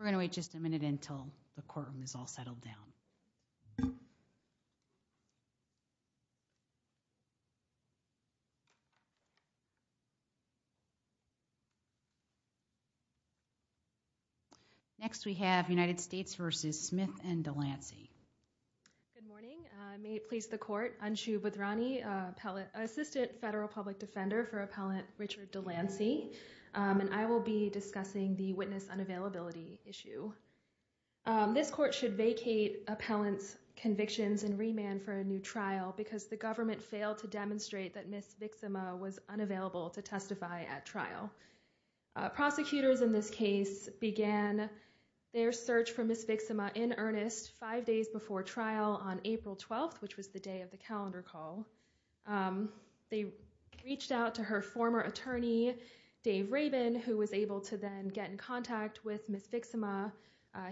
We're going to wait just a minute until the courtroom is all settled down. Next, we have United States v. Smith and DeLancey. Unshu Bhadrani Good morning. May it please the Court, Unshu Bhadrani, Assistant Federal Public Defender for Appellant Richard DeLancey, and I will be discussing the witness unavailability issue. This Court should vacate appellant's convictions and remand for a new trial because the government failed to demonstrate that Ms. Vixima was unavailable to testify at trial. Prosecutors in this case began their search for Ms. Vixima in earnest five days before trial on April 12th, which was the day of the calendar call. They reached out to her former attorney, Dave Rabin, who was able to then get in contact with Ms. Vixima,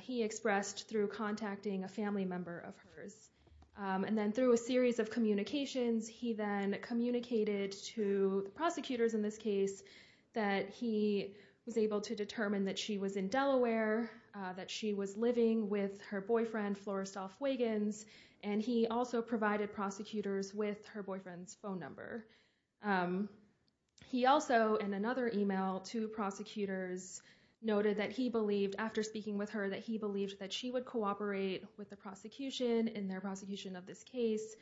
he expressed, through contacting a family member of hers. And then through a series of communications, he then communicated to the prosecutors in this case that he was able to determine that she was in Delaware, that she was living with her boyfriend, Florestolf Wiggins, and he also provided prosecutors with her boyfriend's phone number. He also, in another email to prosecutors, noted that he believed, after speaking with her, that he believed that she would cooperate with the prosecution in their prosecution of this case,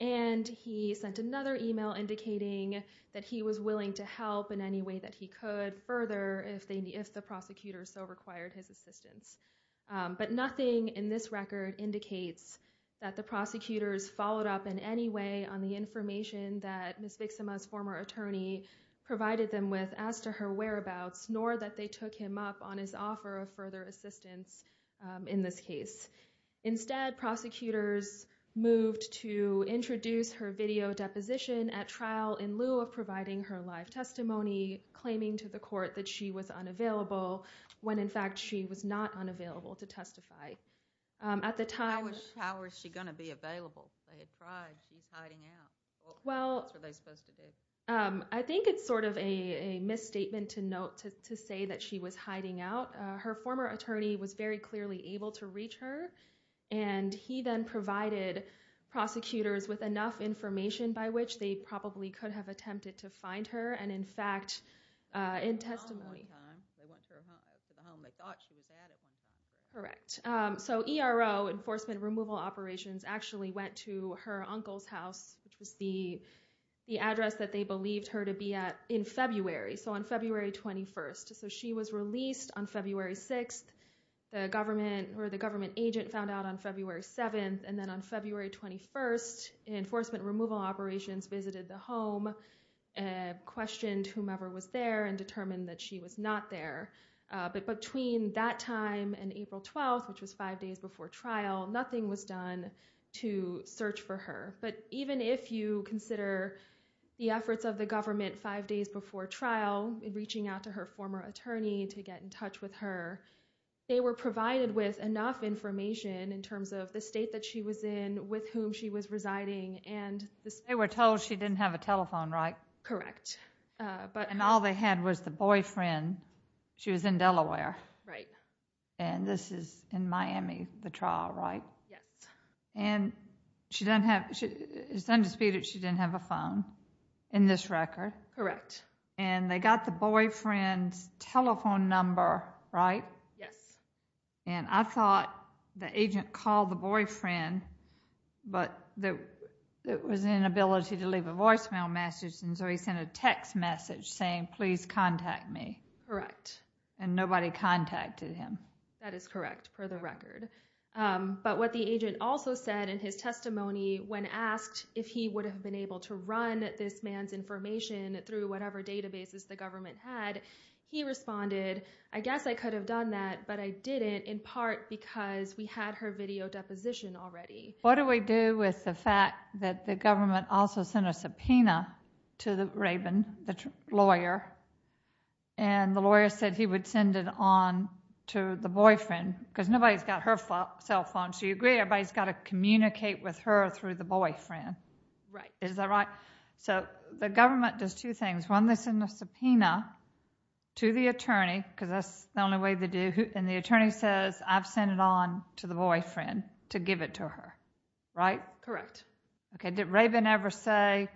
and he sent another email indicating that he was willing to help in any way that he could further if the prosecutors so required his assistance. But nothing in this record indicates that the prosecutors followed up in any way on the information that Ms. Vixima's former attorney provided them with as to her whereabouts, nor that they took him up on his offer of further assistance in this case. Instead, prosecutors moved to introduce her video deposition at trial in lieu of providing her live testimony, claiming to the court that she was unavailable when, in fact, she was not unavailable to testify. At the time – How was she going to be available? They had tried. She's hiding out. That's what they're supposed to do. Well, I think it's sort of a misstatement to say that she was hiding out. Her former attorney was very clearly able to reach her, and he then provided prosecutors with enough information by which they probably could have attempted to find her, and in fact, in testimony. They went to the home they thought she was at at one point. Correct. So ERO, Enforcement Removal Operations, actually went to her uncle's house, which was the address that they believed her to be at in February, so on February 21st. So she was released on February 6th. The government agent found out on February 7th, and then on February 21st, Enforcement removed whomever was there and determined that she was not there. But between that time and April 12th, which was five days before trial, nothing was done to search for her. But even if you consider the efforts of the government five days before trial in reaching out to her former attorney to get in touch with her, they were provided with enough information in terms of the state that she was in, with whom she was residing, and – They were told she didn't have a telephone, right? Correct. But – And all they had was the boyfriend. She was in Delaware. Right. And this is in Miami, the trial, right? Yes. And she doesn't have – it's undisputed she didn't have a phone in this record. Correct. And they got the boyfriend's telephone number, right? Yes. And I thought the agent called the boyfriend, but it was inability to leave a voicemail message, and so he sent a text message saying, please contact me. Correct. And nobody contacted him. That is correct, per the record. But what the agent also said in his testimony when asked if he would have been able to run this man's information through whatever databases the government had, he responded, I guess I could have done that, but I didn't, in part because we had her video deposition already. What do we do with the fact that the government also sent a subpoena to the raven, the lawyer, and the lawyer said he would send it on to the boyfriend, because nobody's got her cell phone, so you agree everybody's got to communicate with her through the boyfriend. Right. Is that right? So the government does two things. One, they send a subpoena to the attorney, because that's the only way they do, and the attorney says, I've sent it on to the lawyer. Correct. Okay. Did Raven ever say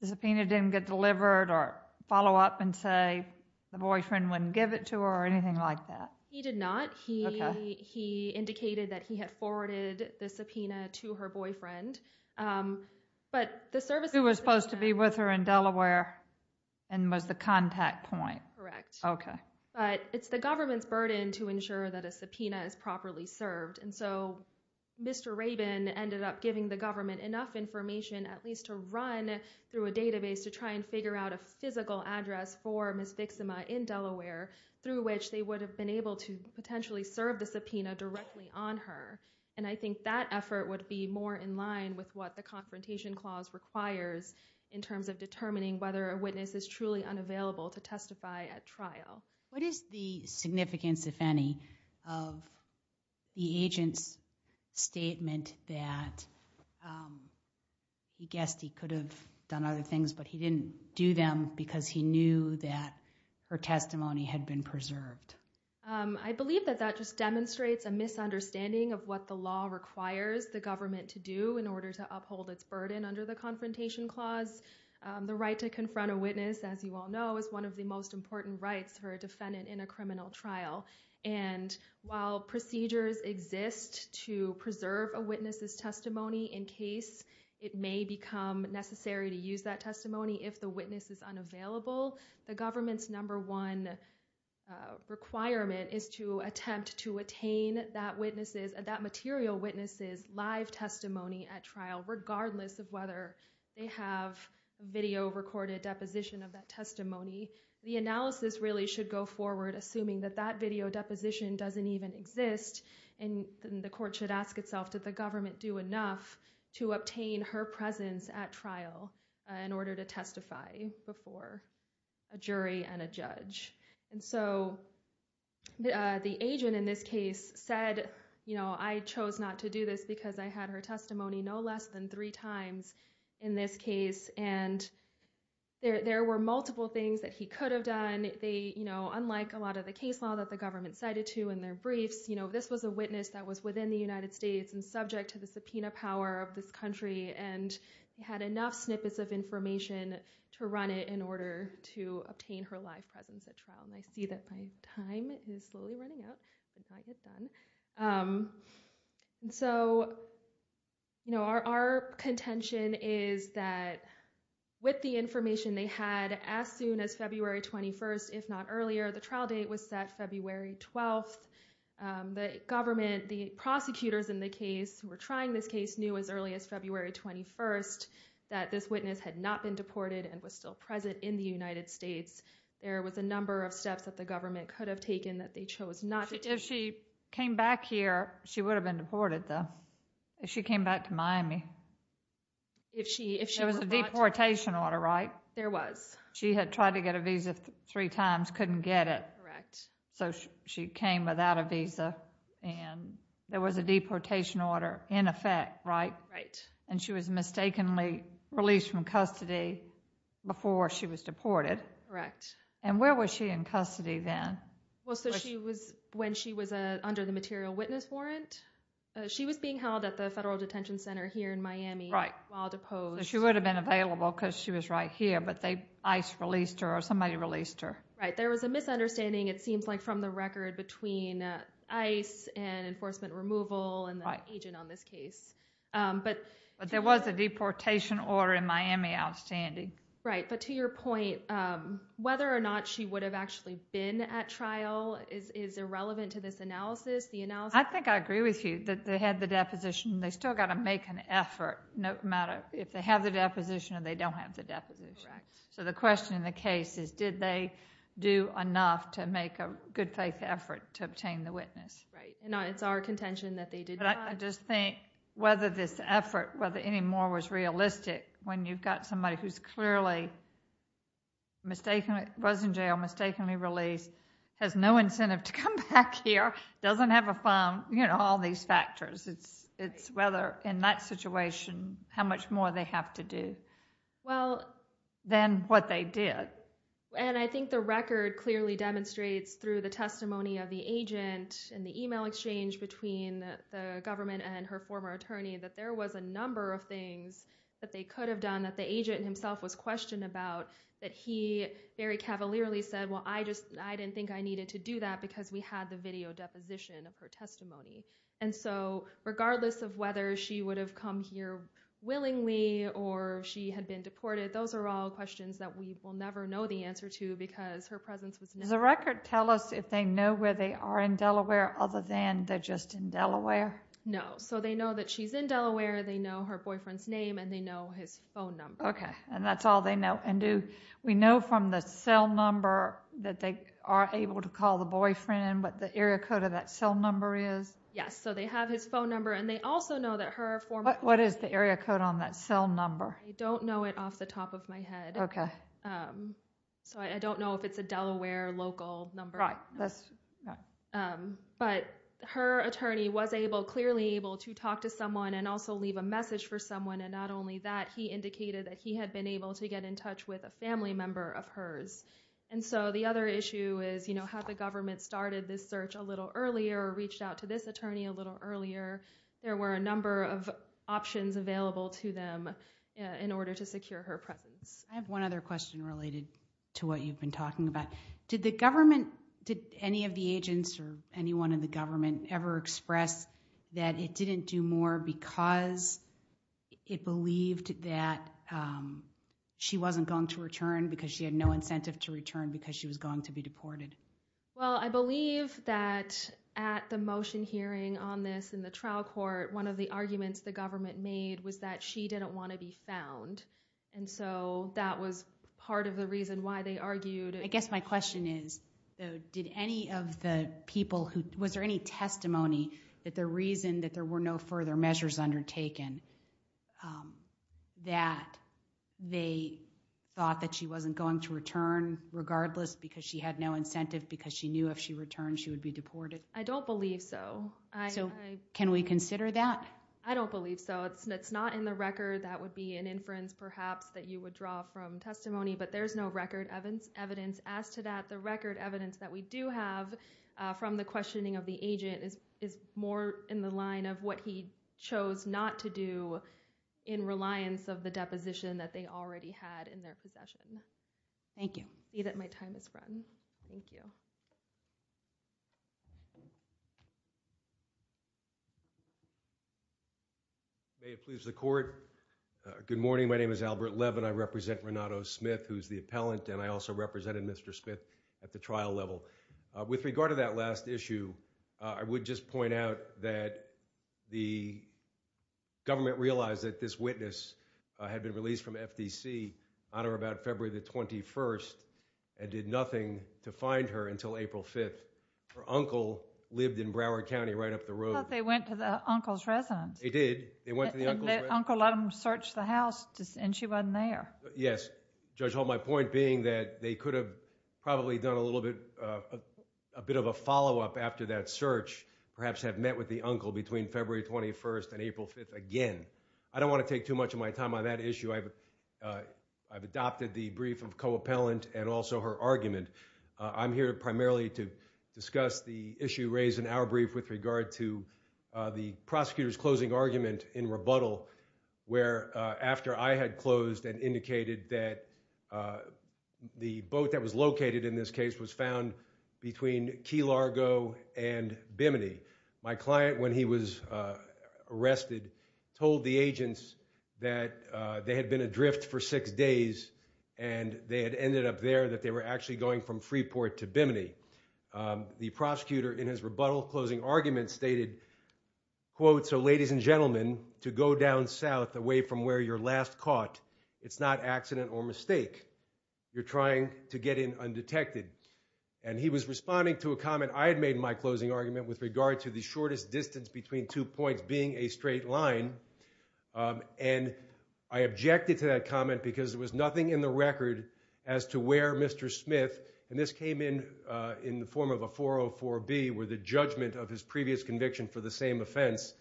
the subpoena didn't get delivered or follow up and say the boyfriend wouldn't give it to her or anything like that? He did not. He indicated that he had forwarded the subpoena to her boyfriend, but the service... Who was supposed to be with her in Delaware and was the contact point. Correct. Okay. But it's the government's burden to ensure that a subpoena is properly served, and so Mr. Raven ended up giving the government enough information at least to run through a database to try and figure out a physical address for Ms. Vixima in Delaware through which they would have been able to potentially serve the subpoena directly on her, and I think that effort would be more in line with what the confrontation clause requires in terms of determining whether a witness is truly unavailable to testify at trial. What is the significance, if any, of the agent's statement that he guessed he could have done other things, but he didn't do them because he knew that her testimony had been preserved? I believe that that just demonstrates a misunderstanding of what the law requires the government to do in order to uphold its burden under the confrontation clause. The right to confront a witness, as you all know, is one of the most important rights for a defendant in a criminal trial, and while procedures exist to preserve a witness's testimony in case it may become necessary to use that testimony if the witness is unavailable, the government's number one requirement is to attempt to attain that material witness's live testimony at trial, regardless of whether they have video-recorded deposition of that testimony. The analysis really should go forward assuming that that video deposition doesn't even exist, and the court should ask itself, did the government do enough to obtain her presence at trial in order to testify before a jury and a judge? And so the agent in this case said, you know, I chose not to do this because I had her testimony no less than three times in this case, and there were multiple things that he could have done. They, you know, unlike a lot of the case law that the government cited to in their briefs, you know, this was a witness that was within the United States and subject to the subpoena power of this country and had enough snippets of information to run it in order to obtain her live presence at trial. And I see that my time is slowly running out. It's not yet done. And so, you know, our contention is that with the information they had as soon as February 21st, if not earlier, the trial date was set February 12th. The government, the prosecutors in the case who were trying this case knew as early as February 21st that this witness had not been deported and was still present in the United States. There was a number of steps that the government could have taken that they chose not to take. If she came back here, she would have been deported, though. If she came back to Miami. If she was brought to Miami. There was a deportation order, right? There was. She had tried to get a visa three times, couldn't get it. Correct. So she came without a visa, and there was a deportation order in effect, right? Right. And she was mistakenly released from custody before she was deported. Correct. And where was she in custody then? Well, so she was when she was under the material witness warrant. She was being held at the federal detention center here in Miami. Right. While deposed. She would have been available because she was right here, but ICE released her or somebody released her. Right. There was a misunderstanding, it seems like, from the record between ICE and enforcement removal and the agent on this case. But there was a deportation order in Miami outstanding. Right. But to your point, whether or not she would have actually been at trial is irrelevant to this analysis. I think I agree with you that they had the deposition. They still got to make an effort, no matter if they have the deposition or they don't have the deposition. So the question in the case is, did they do enough to make a good faith effort to obtain the witness? Right. And it's our contention that they did not. But I just think whether this effort, whether any more was realistic when you've got somebody who's clearly was in jail, mistakenly released, has no incentive to come back here, doesn't have a phone, you know, all these factors. It's whether in that situation, how much more they have to do than what they did. And I think the record clearly demonstrates through the testimony of the agent and the email exchange between the government and her former attorney that there was a number of things that they could have done that the agent himself was questioned about that he very cavalierly said, well, I just I didn't think I needed to do that because we had the video deposition of her testimony. And so regardless of whether she would have come here willingly or she had been deported, those are all questions that we will never know the answer to because her are in Delaware other than they're just in Delaware. No. So they know that she's in Delaware. They know her boyfriend's name and they know his phone number. Okay. And that's all they know. And do we know from the cell number that they are able to call the boyfriend, but the area code of that cell number is? Yes. So they have his phone number and they also know that her form. What is the area code on that cell number? I don't know it off the top of my head. Okay. So I don't know if it's a no, but her attorney was able, clearly able to talk to someone and also leave a message for someone. And not only that, he indicated that he had been able to get in touch with a family member of hers. And so the other issue is, you know, how the government started this search a little earlier or reached out to this attorney a little earlier. There were a number of options available to them in order to secure her presence. I have one other question related to what you've been talking about. Did the government, did any of the agents or anyone in the government ever express that it didn't do more because it believed that she wasn't going to return because she had no incentive to return because she was going to be deported? Well, I believe that at the motion hearing on this in the trial court, one of the arguments the government made was that she didn't want to be found. And so that was part of the reason why they argued. I guess my question is, did any of the people who, was there any testimony that the reason that there were no further measures undertaken that they thought that she wasn't going to return regardless because she had no incentive because she knew if she returned she would be deported? I don't believe so. So can we consider that? I don't believe so. It's not in the record. That would be an inference perhaps that you would draw from testimony, but there's no record evidence. As to that, the record evidence that we do have from the questioning of the agent is more in the line of what he chose not to do in reliance of the deposition that they already had in their possession. Thank you. I see that my time has run. Thank you. May it please the court. Good morning. My name is Albert Levin. I represent Renato Smith who's the appellant and I also represented Mr. Smith at the trial level. With regard to that last issue, I would just point out that the government realized that this witness had been released from FDC on or about February the 21st and did nothing to find her until April 5th. Her uncle lived in Broward County right up the road. I thought they went to the uncle's residence. They did. They went to the uncle's residence. The uncle let them search the house and she wasn't there. Yes. Judge Hall, my point being that they could have probably done a little bit of a follow-up after that search, perhaps had met with the uncle between February 21st and April 5th again. I don't want to take too much of my time on that I've adopted the brief of co-appellant and also her argument. I'm here primarily to discuss the issue raised in our brief with regard to the prosecutor's closing argument in rebuttal where after I had closed and indicated that the boat that was located in this case was found between Key Largo and Bimini. My client when he was arrested told the agents that they had been adrift for six days and they had ended up there that they were actually going from Freeport to Bimini. The prosecutor in his rebuttal closing argument stated quote so ladies and gentlemen to go down south away from where you're last caught it's not accident or mistake you're trying to get in undetected and he was responding to a comment I had made in my closing argument with regard to the shortest distance between two points being a straight line and I objected to that comment because there was nothing in the record as to where Mr. Smith and this came in the form of a 404b where the judgment of his previous conviction for the same offense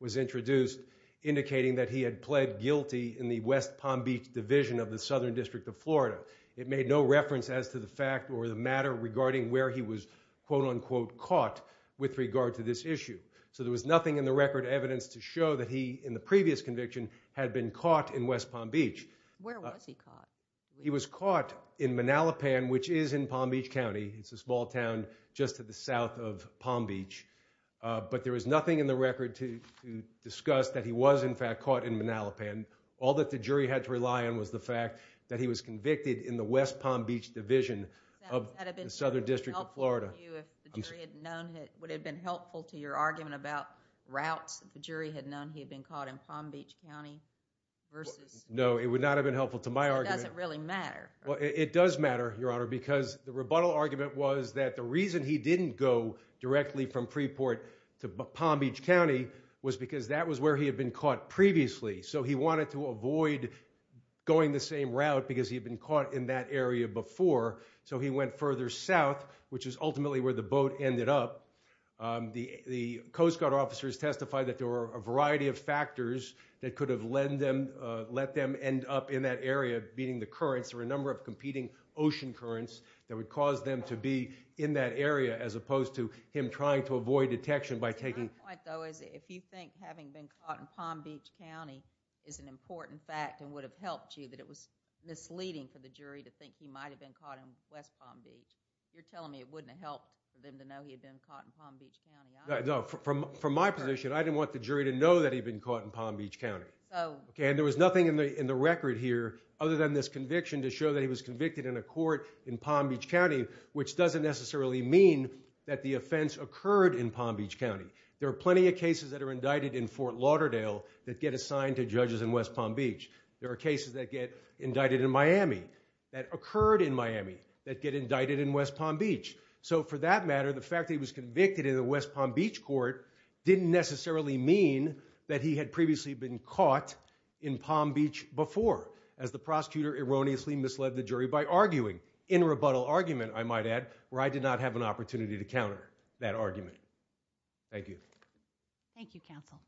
was introduced indicating that he had pled guilty in the West Palm Beach division of the Southern District of Florida. It made no reference as to the fact or the matter regarding where he was quote unquote caught with regard to this issue so there was nothing in the record evidence to show that he in the previous conviction had been caught in West Palm Beach. Where was he caught? He was caught in Manalapan which is in Palm Beach County. It's a small town just to the south of Palm Beach but there was nothing in the record to discuss that he was in fact caught in Manalapan. All that the jury had to rely on was the fact that he was convicted in the West Palm Beach division of the Southern District of Florida. Would it have been helpful to your argument about routes if the jury had known he had been caught in Palm Beach County versus? No it would not have been helpful to my argument. It doesn't really matter. Well it does matter your honor because the rebuttal argument was that the reason he didn't go directly from Preport to Palm Beach County was because that was where he had been caught previously so he wanted to avoid going the same route because he'd been caught in that area before so he went further south which is ultimately where the boat ended up. The Coast Guard officers testified that there were a variety of factors that could have led them let them end up in that area beating the currents or a number of competing ocean currents that would cause them to be in that area as opposed to him trying to avoid detection by taking. My point though is if you think having been caught in Palm Beach County is an important fact and would have helped you that it was misleading for the jury to think he might have been caught in West Palm Beach you're telling me it wouldn't have helped them to know he had been caught in Palm Beach County. No from from my position I didn't want the jury to know that he'd been caught in Palm Beach County okay and there was nothing in the in the record here other than this conviction to show that he was convicted in a court in Palm Beach County which doesn't necessarily mean that the offense occurred in Palm Beach County. There are plenty of cases that are indicted in Fort Lauderdale that get assigned to judges in West Palm Beach. There are cases that get indicted in Miami that occurred in Miami that get indicted in West Palm Beach so for that matter the fact that he was convicted in the West Palm Beach court didn't necessarily mean that he had previously been caught in Palm Beach before as the prosecutor erroneously misled the jury by arguing in a rebuttal argument I might add where I did not have an opportunity to counter that counsel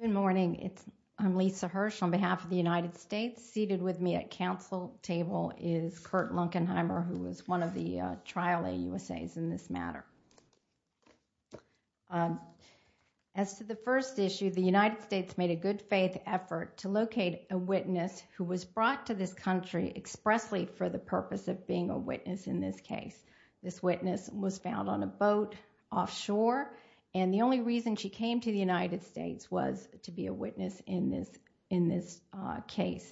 good morning it's I'm Lisa Hirsch on behalf of the United States seated with me at counsel table is Kurt Lunkenheimer who was one of the trial a usas in this matter as to the first issue the United States made a good faith effort to locate a witness who was brought to this country expressly for the purpose of being a witness in this case this witness was found on a boat offshore and the only reason she came to the United States was to be a witness in this in this case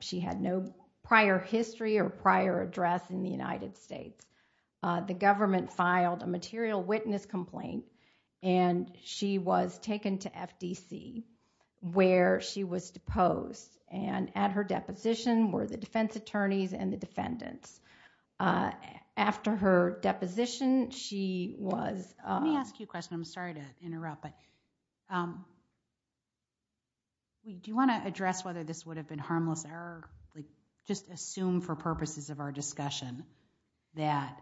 she had no prior history or prior address in the United States the government filed a material witness complaint and she was taken to FDC where she was deposed and at her deposition were the defense attorneys and the defendants after her deposition she was let me ask you a question I'm sorry to interrupt but do you want to address whether this would have been harmless error like just assume for purposes of our discussion that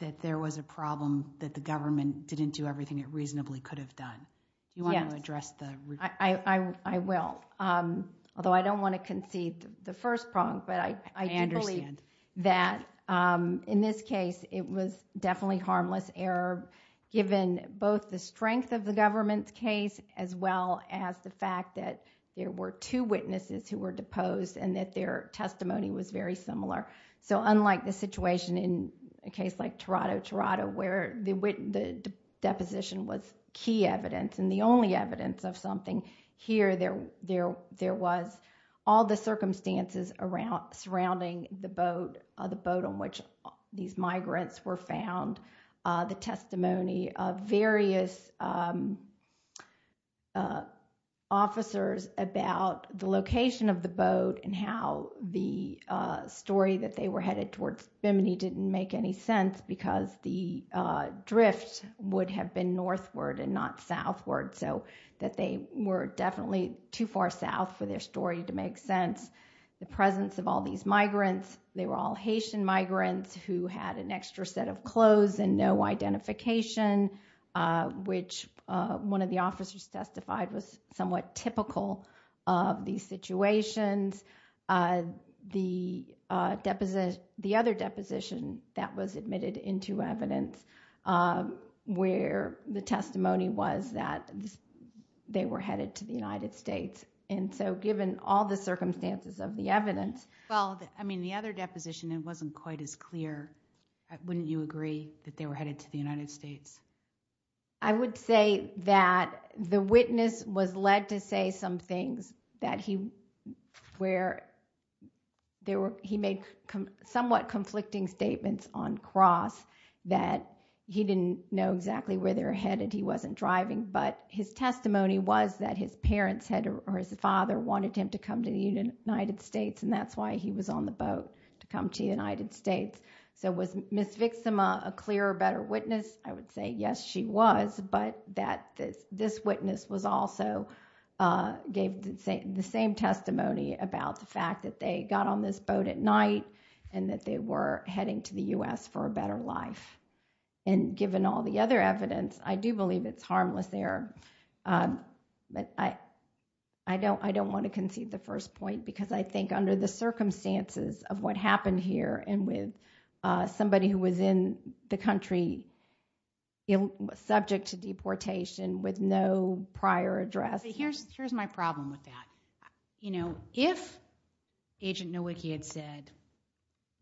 that there was a problem that the government didn't do everything it reasonably could have done you want to address the I will although I don't want to concede the first problem but I understand that in this case it was definitely harmless error given both the strength of the government's case as well as the fact that there were two witnesses who were deposed and that their testimony was very similar so unlike the situation in a case like Toronto, Toronto where the deposition was key evidence and the only evidence of something here there there there was all the circumstances around surrounding the boat the boat on which these migrants were found the testimony of various officers about the location of the boat and how the story that they were headed towards Bimini didn't make any sense because the drift would have been northward and not southward so that they were definitely too far south for their story to make sense the presence of all these migrants they were all Haitian migrants who had an extra set of clothes and no identification which one of the officers testified was somewhat typical of these situations the deposition the other deposition that was admitted into evidence where the testimony was that they were headed to the United States and so given all the circumstances of the evidence well I mean the other deposition it wasn't quite as clear wouldn't you agree that they were headed to the United States? I would say that the witness was led to say some things that he where there were he made somewhat conflicting statements on cross that he didn't know exactly where they're headed he wasn't driving but his testimony was that his parents had or his father wanted him to come to the United States and that's why he was on the boat to come to the United States. So was Miss Vixima a clear better witness? I would say yes she was but that this witness was also gave the same testimony about the fact that they got on this boat at night and that they were heading to the U.S. for a better life and given all the other evidence I do believe it's harmless there but I don't want to concede the first point because I think under the circumstances of what happened here and with somebody who was in the country it was subject to deportation with no prior address. Here's here's my problem with that you know if Agent Nowicki had said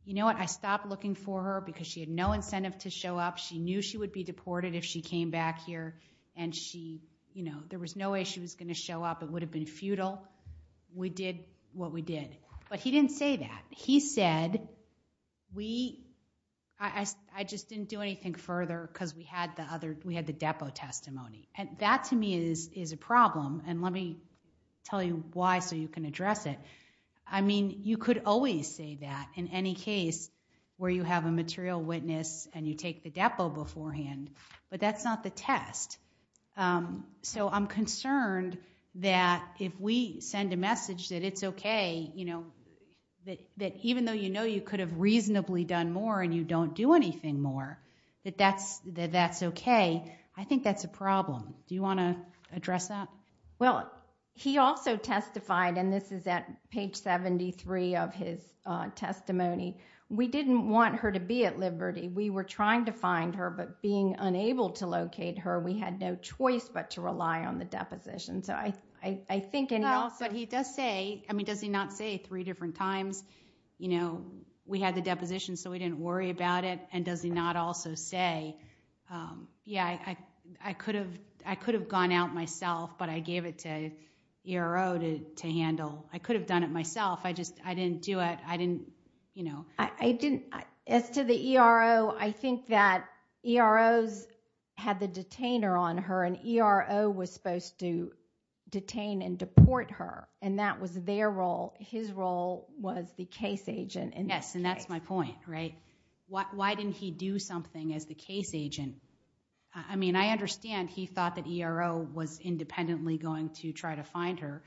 you know what I stopped looking for her because she had no incentive to show up she knew she would be deported if she came back here and she you know there was no way she was going to show up it would have been futile we did what we did but he didn't say that he said we I just didn't do anything further because we had the other we had the depo testimony and that to me is is a problem and let me tell you why so you can address it I mean you could always say that in any case where you have a material witness and you take the depo beforehand but that's not the test so I'm concerned that if we send a message that it's okay you know that that even though you know you could have reasonably done more and you don't do anything more that that's that that's okay I think that's a problem do you want to address that? Well he also testified and this is at page 73 of his testimony we didn't want her to be at liberty we were trying to find her but being unable to but he does say I mean does he not say three different times you know we had the deposition so we didn't worry about it and does he not also say yeah I could have I could have gone out myself but I gave it to ERO to to handle I could have done it myself I just I didn't do it I didn't you know I didn't as to the ERO I think that ERO's had the detainer on her and ERO was supposed to deport her and that was their role his role was the case agent and yes and that's my point right why didn't he do something as the case agent I mean I understand he thought that ERO was independently going to try to find her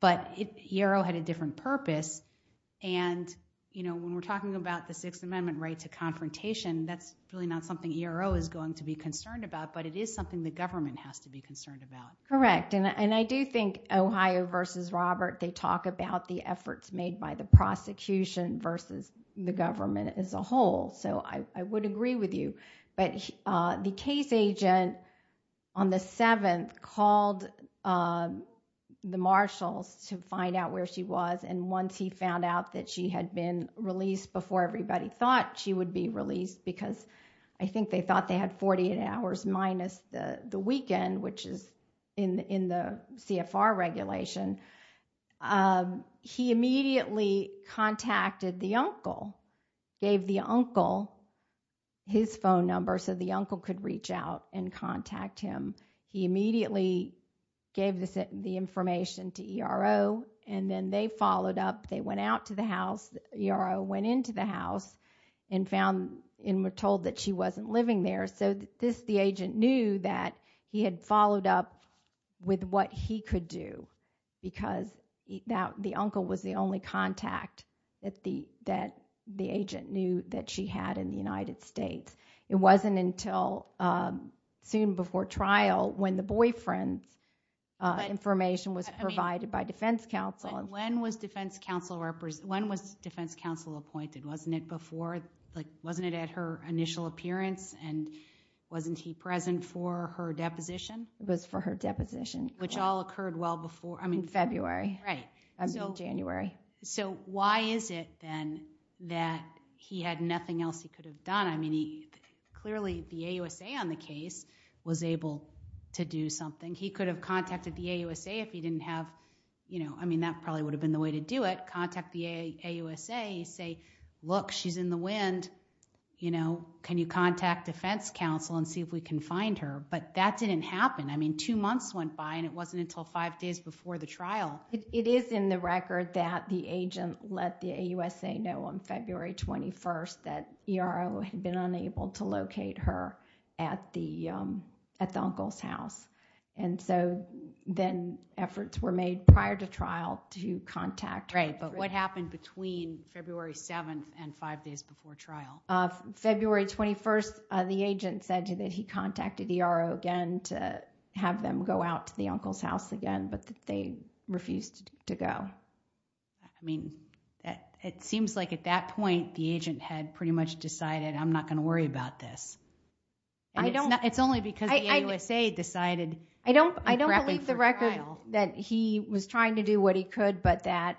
but ERO had a different purpose and you know when we're talking about the sixth amendment right to confrontation that's really not something ERO is going to be concerned about but it is something the government has to be concerned about correct and I do think Ohio versus Robert they talk about the efforts made by the prosecution versus the government as a whole so I would agree with you but the case agent on the 7th called the marshals to find out where she was and once he found out that she had been released before everybody thought she would be released because I think they thought they had 48 hours minus the the weekend which is in in the CFR regulation he immediately contacted the uncle gave the uncle his phone number so the uncle could reach out and contact him he immediately gave this the information to ERO and then they followed up they went out to the house ERO went into the house and found and were told that she wasn't living there so this the agent knew that he had followed up with what he could do because that the uncle was the only contact that the that the agent knew that she had in the United States it wasn't until um soon before trial when the boyfriend's uh information was provided by defense counsel when was defense counsel when was defense counsel appointed wasn't it before like wasn't it at her initial appearance and wasn't he present for her deposition it was for her deposition which all occurred well before I mean February right until January so why is it then that he had nothing else he could have done I mean he clearly the AUSA on the case was able to do something he could have contacted the AUSA if he didn't have you know I mean that probably would have been the way to do it contact the AUSA say look she's in the wind you know can you contact defense counsel and see if we can find her but that didn't happen I mean two months went by and it wasn't until five days before the trial it is in the record that the agent let the AUSA know on February 21st that ERO had been unable to locate her at the um at the uncle's house and so then efforts were made prior to trial to contact right but what happened between February 7th and five days before trial uh February 21st the agent said that he contacted ERO again to have them go out to the uncle's house again but they refused to go I mean it seems like at that point the agent had pretty much decided I'm not going to worry about this I don't know it's only because the AUSA decided I don't I don't believe the record that he was trying to do what he could but that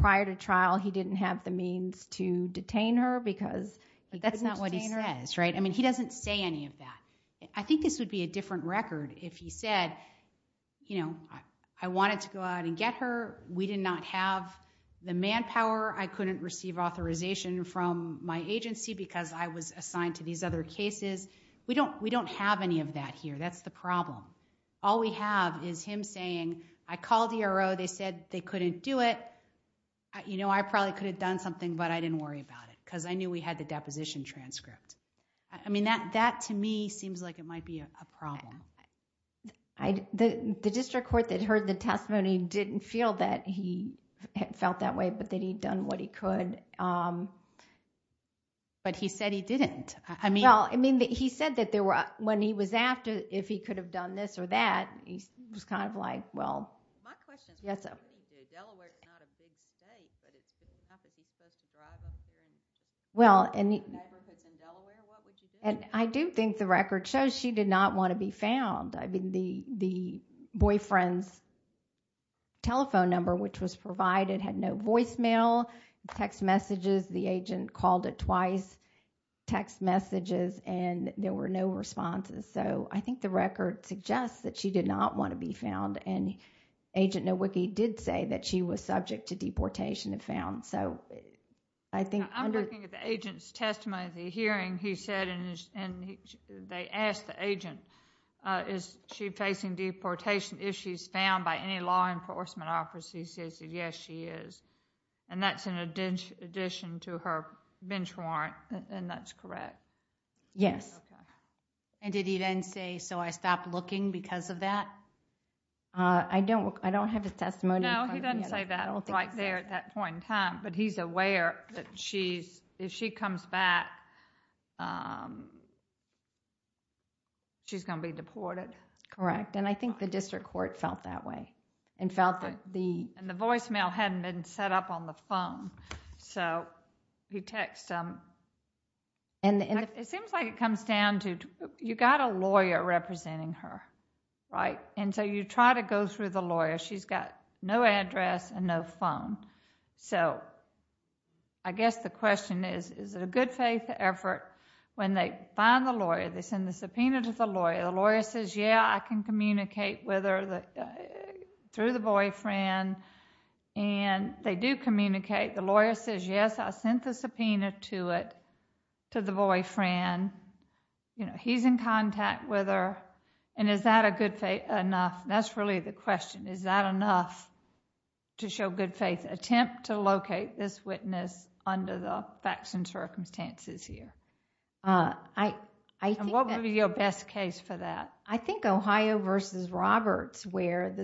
prior to trial he didn't have the means to detain her because that's not what he says right I mean he doesn't say any of that I think this would be a different record if he said you know I wanted to go out and get her we did not have the manpower I couldn't receive authorization from my agency because I was assigned to these other cases we don't we don't have any of that here that's the problem all we have is him saying I called ERO they said they couldn't do it you know I probably could have done something but I didn't worry about it because I knew we had the deposition transcript I mean that that to me seems like it might be a problem I the district court that heard the testimony didn't feel that he felt that way but that he'd done what he could but he said he didn't I mean well I mean that he said that there were when he was after if he could have done this or that he was kind of like well yes so well and I do think the record shows she did not want to be found I mean the the boyfriend's telephone number which was provided had no voicemail text messages the agent called it twice text messages and there were no responses so I think the record suggests that she did not want to be found and agent Nowicki did say that she was subject to deportation and found so I think I'm looking at the agent's testimony the hearing he said and and they asked the agent uh is she facing deportation issues found by any law enforcement officers he said yes she is and that's an addition to her bench warrant and that's correct yes and did he then say so I stopped looking because of that uh I don't I don't have his testimony no he doesn't say that right there at that point in time but he's aware that she's if she comes back um she's going to be deported correct and I think the district court felt that way and felt that the and the voicemail hadn't been set up on the phone so he texts um and it seems like it comes down to you got a lawyer representing her right and so you try to go through the lawyer she's got no address and no phone so I guess the question is is it a good faith effort when they find the lawyer they send the subpoena to the lawyer the lawyer says yeah I can communicate with her the through the boyfriend and they do communicate the lawyer says yes I sent the subpoena to it to the boyfriend and you know he's in contact with her and is that a good faith enough that's really the question is that enough to show good faith attempt to locate this witness under the facts and circumstances here uh I I think what would be your best case for that I think Ohio versus Roberts where the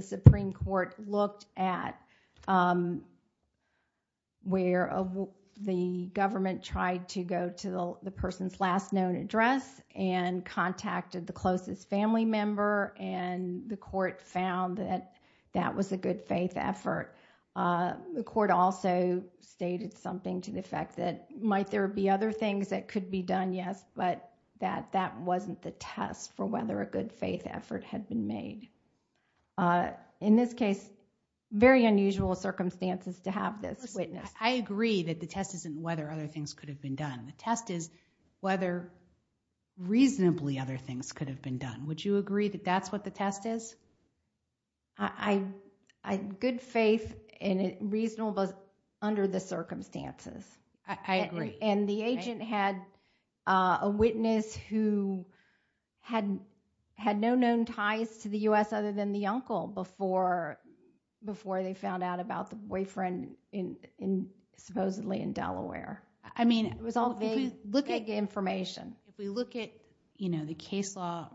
address and contacted the closest family member and the court found that that was a good faith effort uh the court also stated something to the effect that might there be other things that could be done yes but that that wasn't the test for whether a good faith effort had been made uh in this case very unusual circumstances to have this witness I agree that the test isn't whether other things could have been done the test is whether reasonably other things could have been done would you agree that that's what the test is I I good faith and reasonable under the circumstances I agree and the agent had a witness who had had no known ties to the U.S. other than the uncle before before they found out about the boyfriend in in supposedly in Delaware I mean it was all they look at the information if we look at you know the case law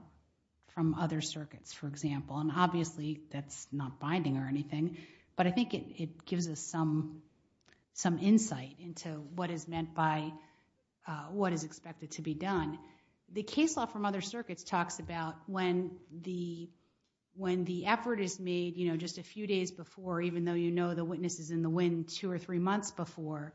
from other circuits for example and obviously that's not binding or anything but I think it it gives us some some insight into what is meant by uh what is expected to be done the case law from other circuits talks about when the when the effort is made you know just a few days before even though you know the witness is in the wind two or three months before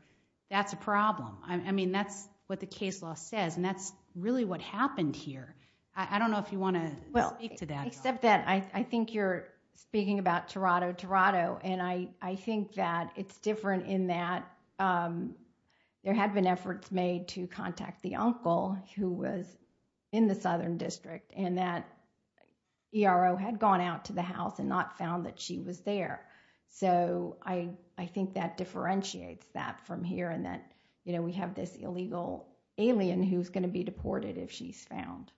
that's a problem I mean that's what the case law says and that's really what happened here I don't know if you want to well speak to that except that I I think you're speaking about Toronto Toronto and I I think that it's different in that um there had been efforts made to contact the uncle who was in the southern district and that ERO had gone out to the house and not found that she was there so I I think that differentiates that from here and that you know we have this illegal alien who's going to be deported if she's found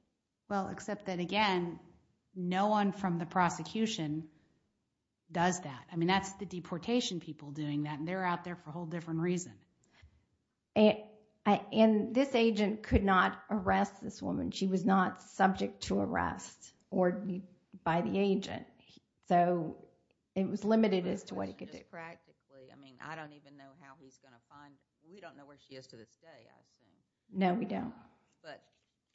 well except that again no one from the prosecution does that I mean that's the deportation people doing that and they're out there for a whole different reason and I and this agent could not arrest this woman she was not subject to arrest or by the agent so it was limited as to what he could do practically I mean I don't even know how he's gonna find we don't know where she is to this day I assume no we don't but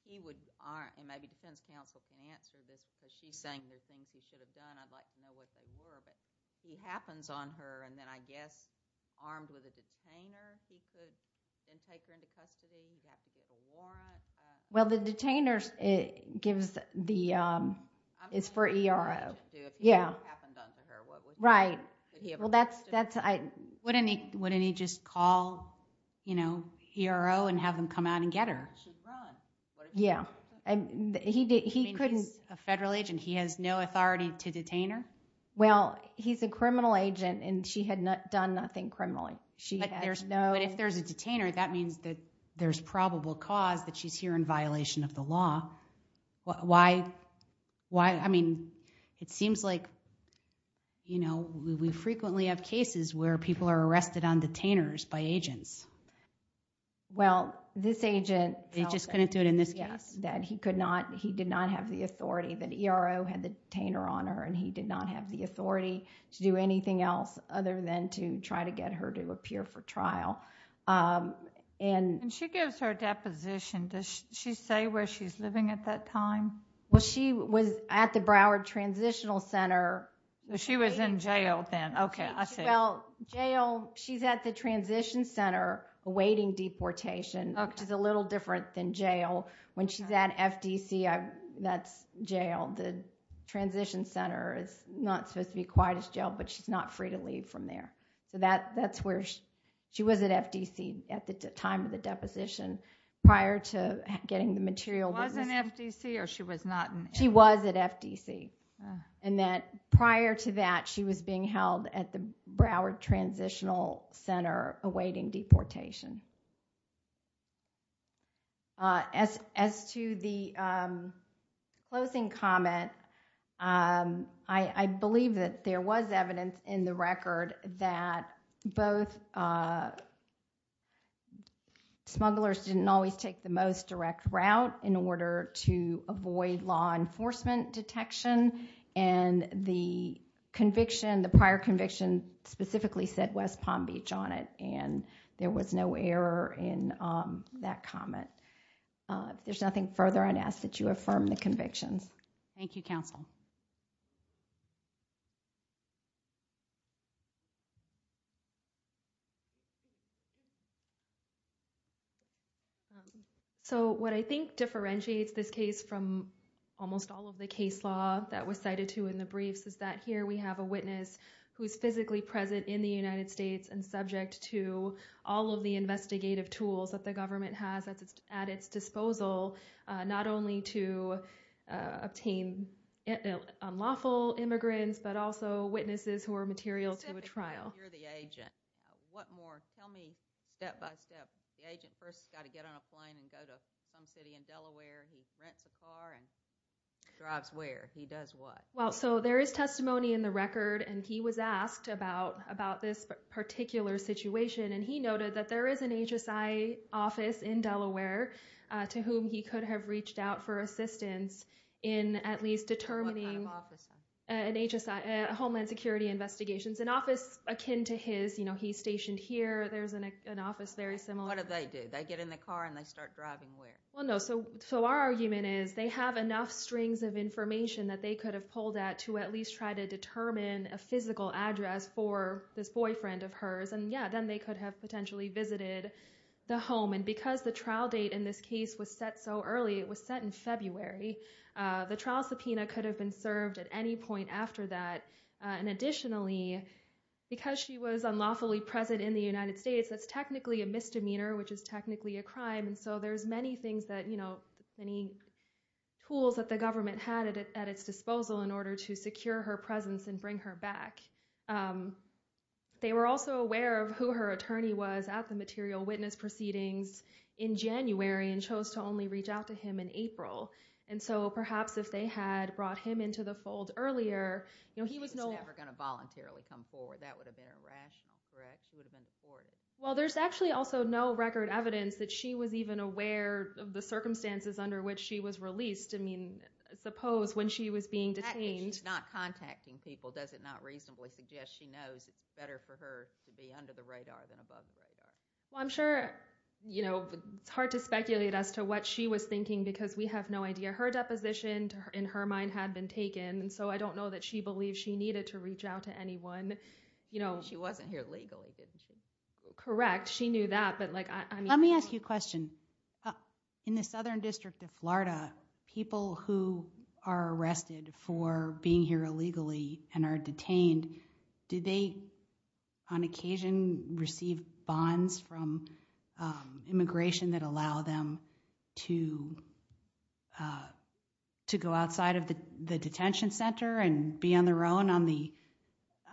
he would aren't and maybe defense counsel can answer this because she's saying there's things he should have done I'd like to know what they were but he happens on her and then I guess armed with a detainer he could then take her into custody well the detainers it gives the um it's for ERO yeah right well that's that's I wouldn't he wouldn't he just call you know ERO and have them come out and get her wrong yeah and he did he couldn't a federal agent he has no authority to detain her well he's a criminal agent and she had not done nothing criminally she had there's no but if there's a detainer that means that there's probable cause that she's here in violation of the law why why I mean it seems like you know we frequently have cases where people are just couldn't do it in this case that he could not he did not have the authority that ERO had the detainer on her and he did not have the authority to do anything else other than to try to get her to appear for trial um and she gives her deposition does she say where she's living at that time well she was at the Broward Transitional Center she was in jail then okay well jail she's at the transition center awaiting deportation which is a little different than jail when she's at FDC that's jail the transition center is not supposed to be quite as jail but she's not free to leave from there so that that's where she was at FDC at the time of the deposition prior to getting the material wasn't FDC or she was not she was at FDC and that prior to that she was being held at the Broward Transitional Center awaiting deportation uh as as to the um closing comment um I I believe that there was evidence in the record that both uh smugglers didn't always take the most direct route in order to avoid law enforcement detection and the conviction the prior conviction specifically said West Palm Beach on it and there was no error in um that comment uh there's nothing further I ask that you affirm the convictions thank you counsel so what I think differentiates this case from almost all of the case law that was cited to in the briefs is that here we have a witness who's physically present in the United States and subject to all of the investigative tools that the government has at its disposal not only to obtain unlawful immigrants but also witnesses who are material to a trial you're the agent what more tell me step by step the drives where he does what well so there is testimony in the record and he was asked about about this particular situation and he noted that there is an HSI office in Delaware to whom he could have reached out for assistance in at least determining an HSI homeland security investigations an office akin to his you know he's stationed here there's an office very similar what do they do they get in the car and they start driving where well no so so our argument is they have enough strings of information that they could have pulled at to at least try to determine a physical address for this boyfriend of hers and yeah then they could have potentially visited the home and because the trial date in this case was set so early it was set in February the trial subpoena could have been served at any point after that and additionally because she was unlawfully present in the United States that's technically a misdemeanor which is technically a crime and so there's many things that you know many tools that the government had at its disposal in order to secure her presence and bring her back they were also aware of who her attorney was at the material witness proceedings in January and chose to only reach out to him in April and so perhaps if they had brought him into the fold earlier you know he was never going to voluntarily come forward that would have been irrational correct she would have been deported well there's actually also no record evidence that she was even aware of the circumstances under which she was released I mean suppose when she was being detained not contacting people does it not reasonably suggest she knows it's better for her to be under the radar than above the radar well I'm sure you know it's hard to speculate as to what she was thinking because we have no idea her deposition in her mind had been taken and so I don't know that she believed she needed to reach out to anyone you know she wasn't here legally didn't she correct she knew that but like let me ask you a question in the southern district of Florida people who are arrested for being here illegally and are detained did they on occasion receive bonds from immigration that allow them to uh to go outside of the the detention center and be on their own on the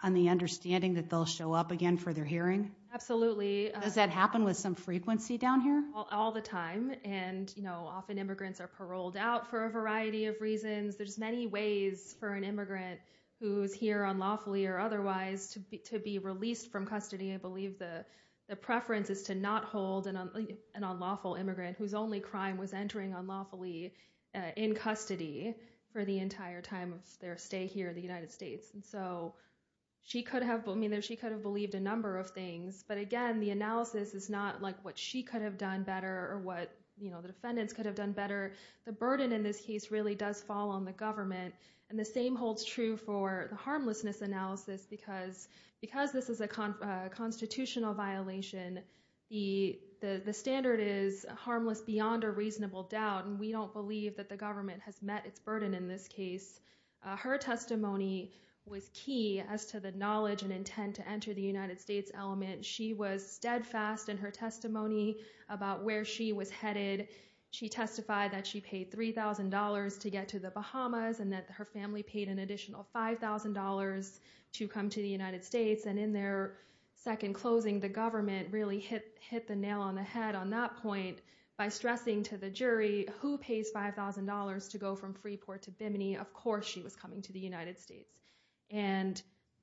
on the understanding that they'll show up again for their hearing absolutely does that happen with some frequency down here all the time and you know often immigrants are paroled out for a variety of reasons there's many ways for an immigrant who's here unlawfully or otherwise to be to be released from custody I believe the the preference is to not hold an unlawful immigrant whose only crime was entering unlawfully in custody for the entire time of their stay here in the United States and so she could have I mean she could have believed a number of things but again the analysis is not like what she could have done better or what you know the defendants could have done better the burden in this case really does fall on the government and the same holds true for the harmlessness analysis because because this is a constitutional violation the the the standard is harmless beyond a reasonable doubt and we don't believe that the government has met its burden in this case her testimony was key as to the knowledge and intent to enter the United States element she was steadfast in her testimony about where she was headed she testified that she paid three thousand dollars to get to the Bahamas and that her family paid an additional five thousand dollars to come to the United States and in their second closing the government really hit hit the nail on the by stressing to the jury who pays five thousand dollars to go from Freeport to Bimini of course she was coming to the United States and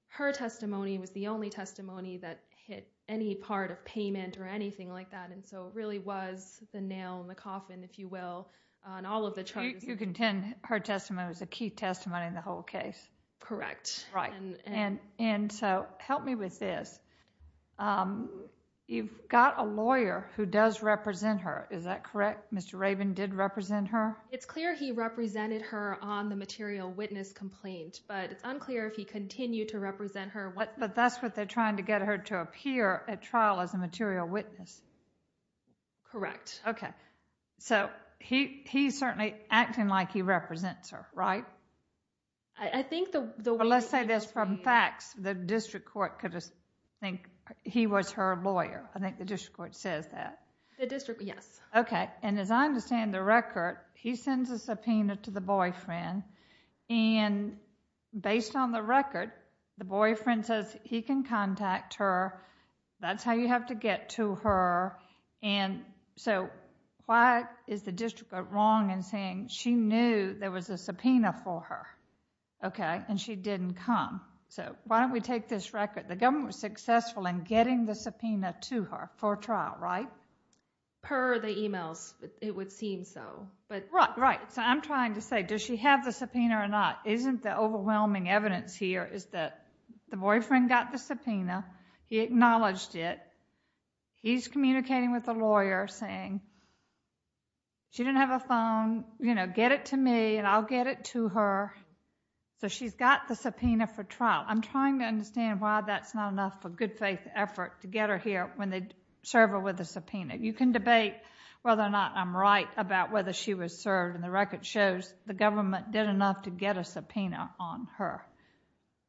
her testimony was the only testimony that hit any part of payment or anything like that and so it really was the nail in the coffin if you will on all of the charges you contend her testimony was a key testimony in the whole case correct right and and and so help me with this um you've got a lawyer who does represent her is that correct Mr. Raven did represent her it's clear he represented her on the material witness complaint but it's unclear if he continued to represent her what but that's what they're trying to get her to appear at trial as a material witness correct okay so he he's certainly acting like he represents her right i think the let's say this from facts the district court could just think he was her lawyer i think the district court says that the district yes okay and as i understand the record he sends a subpoena to the boyfriend and based on the record the boyfriend says he can contact her that's how you have to get to her and so why is the district wrong in saying she knew there was a subpoena for her okay and she didn't come so why don't we take this record the government was successful in getting the subpoena to her for trial right per the emails it would seem so but right right so i'm trying to say does she have the subpoena or not isn't the overwhelming evidence here is that the boyfriend got the subpoena he acknowledged it he's communicating with the lawyer saying she didn't have a phone you know get it to me and i'll get it to her so she's got the subpoena for trial i'm trying to understand why that's not enough for good faith effort to get her here when they serve her with a subpoena you can debate whether or not i'm right about whether she was served and the record shows the government did enough to get a subpoena on her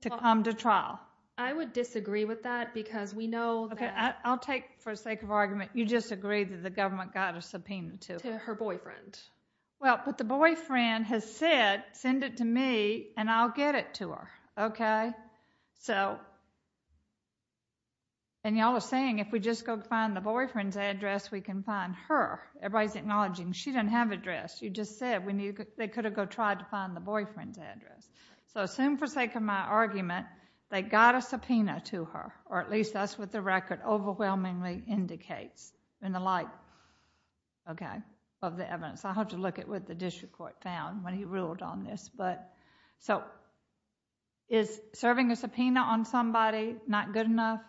to come to trial i would disagree with that because we know okay i'll take for the sake of argument you just agreed that the government got a subpoena to her boyfriend well but the boyfriend has said send it to me and i'll get it to her okay so and y'all are saying if we just go find the boyfriend's address we can find her everybody's acknowledging she didn't have address you just said when you could they could have go tried to find the boyfriend's address so assume for sake of my argument they got a subpoena to her or at least that's what the record overwhelmingly indicates in the light okay of the evidence i hope to look at what the district court found when he ruled on this but so is serving a subpoena on somebody not good enough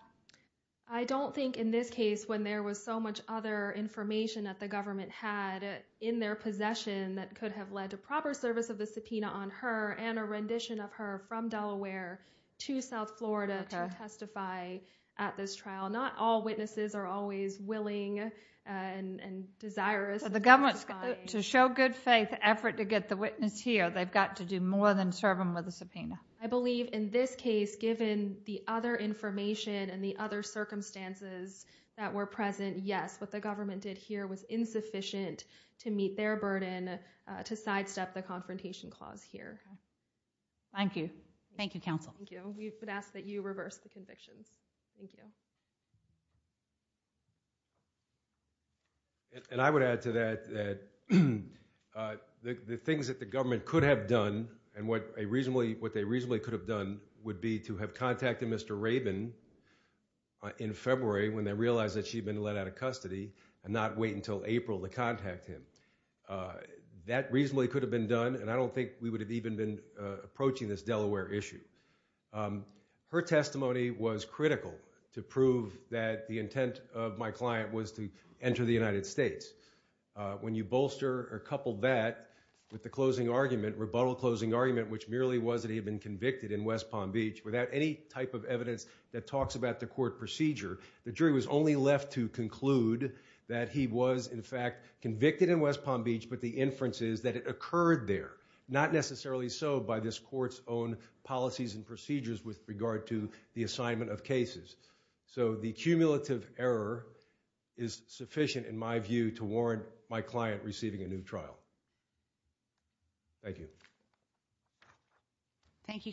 i don't think in this case when there was so much other information that the government had in their possession that could have led to proper service of the subpoena on her and a rendition of her from delaware to south florida to testify at this trial not all witnesses are always willing and desirous so the government's to show good faith effort to get the witness here they've got to do more than serve them with a subpoena i believe in this case given the other information and the other circumstances that were present yes what the government did here was thank you thank you counsel thank you we would ask that you reverse the convictions thank you and i would add to that that uh the the things that the government could have done and what a reasonably what they reasonably could have done would be to have contacted mr rabin in february when they realized that she'd been let out of custody and not wait until april to approaching this delaware issue her testimony was critical to prove that the intent of my client was to enter the united states when you bolster or couple that with the closing argument rebuttal closing argument which merely was that he had been convicted in west palm beach without any type of evidence that talks about the court procedure the jury was only left to conclude that he was in fact convicted in west palm beach but the inferences that it occurred there not necessarily so by this court's own policies and procedures with regard to the assignment of cases so the cumulative error is sufficient in my view to warrant my client receiving a new trial thank you thank you counsel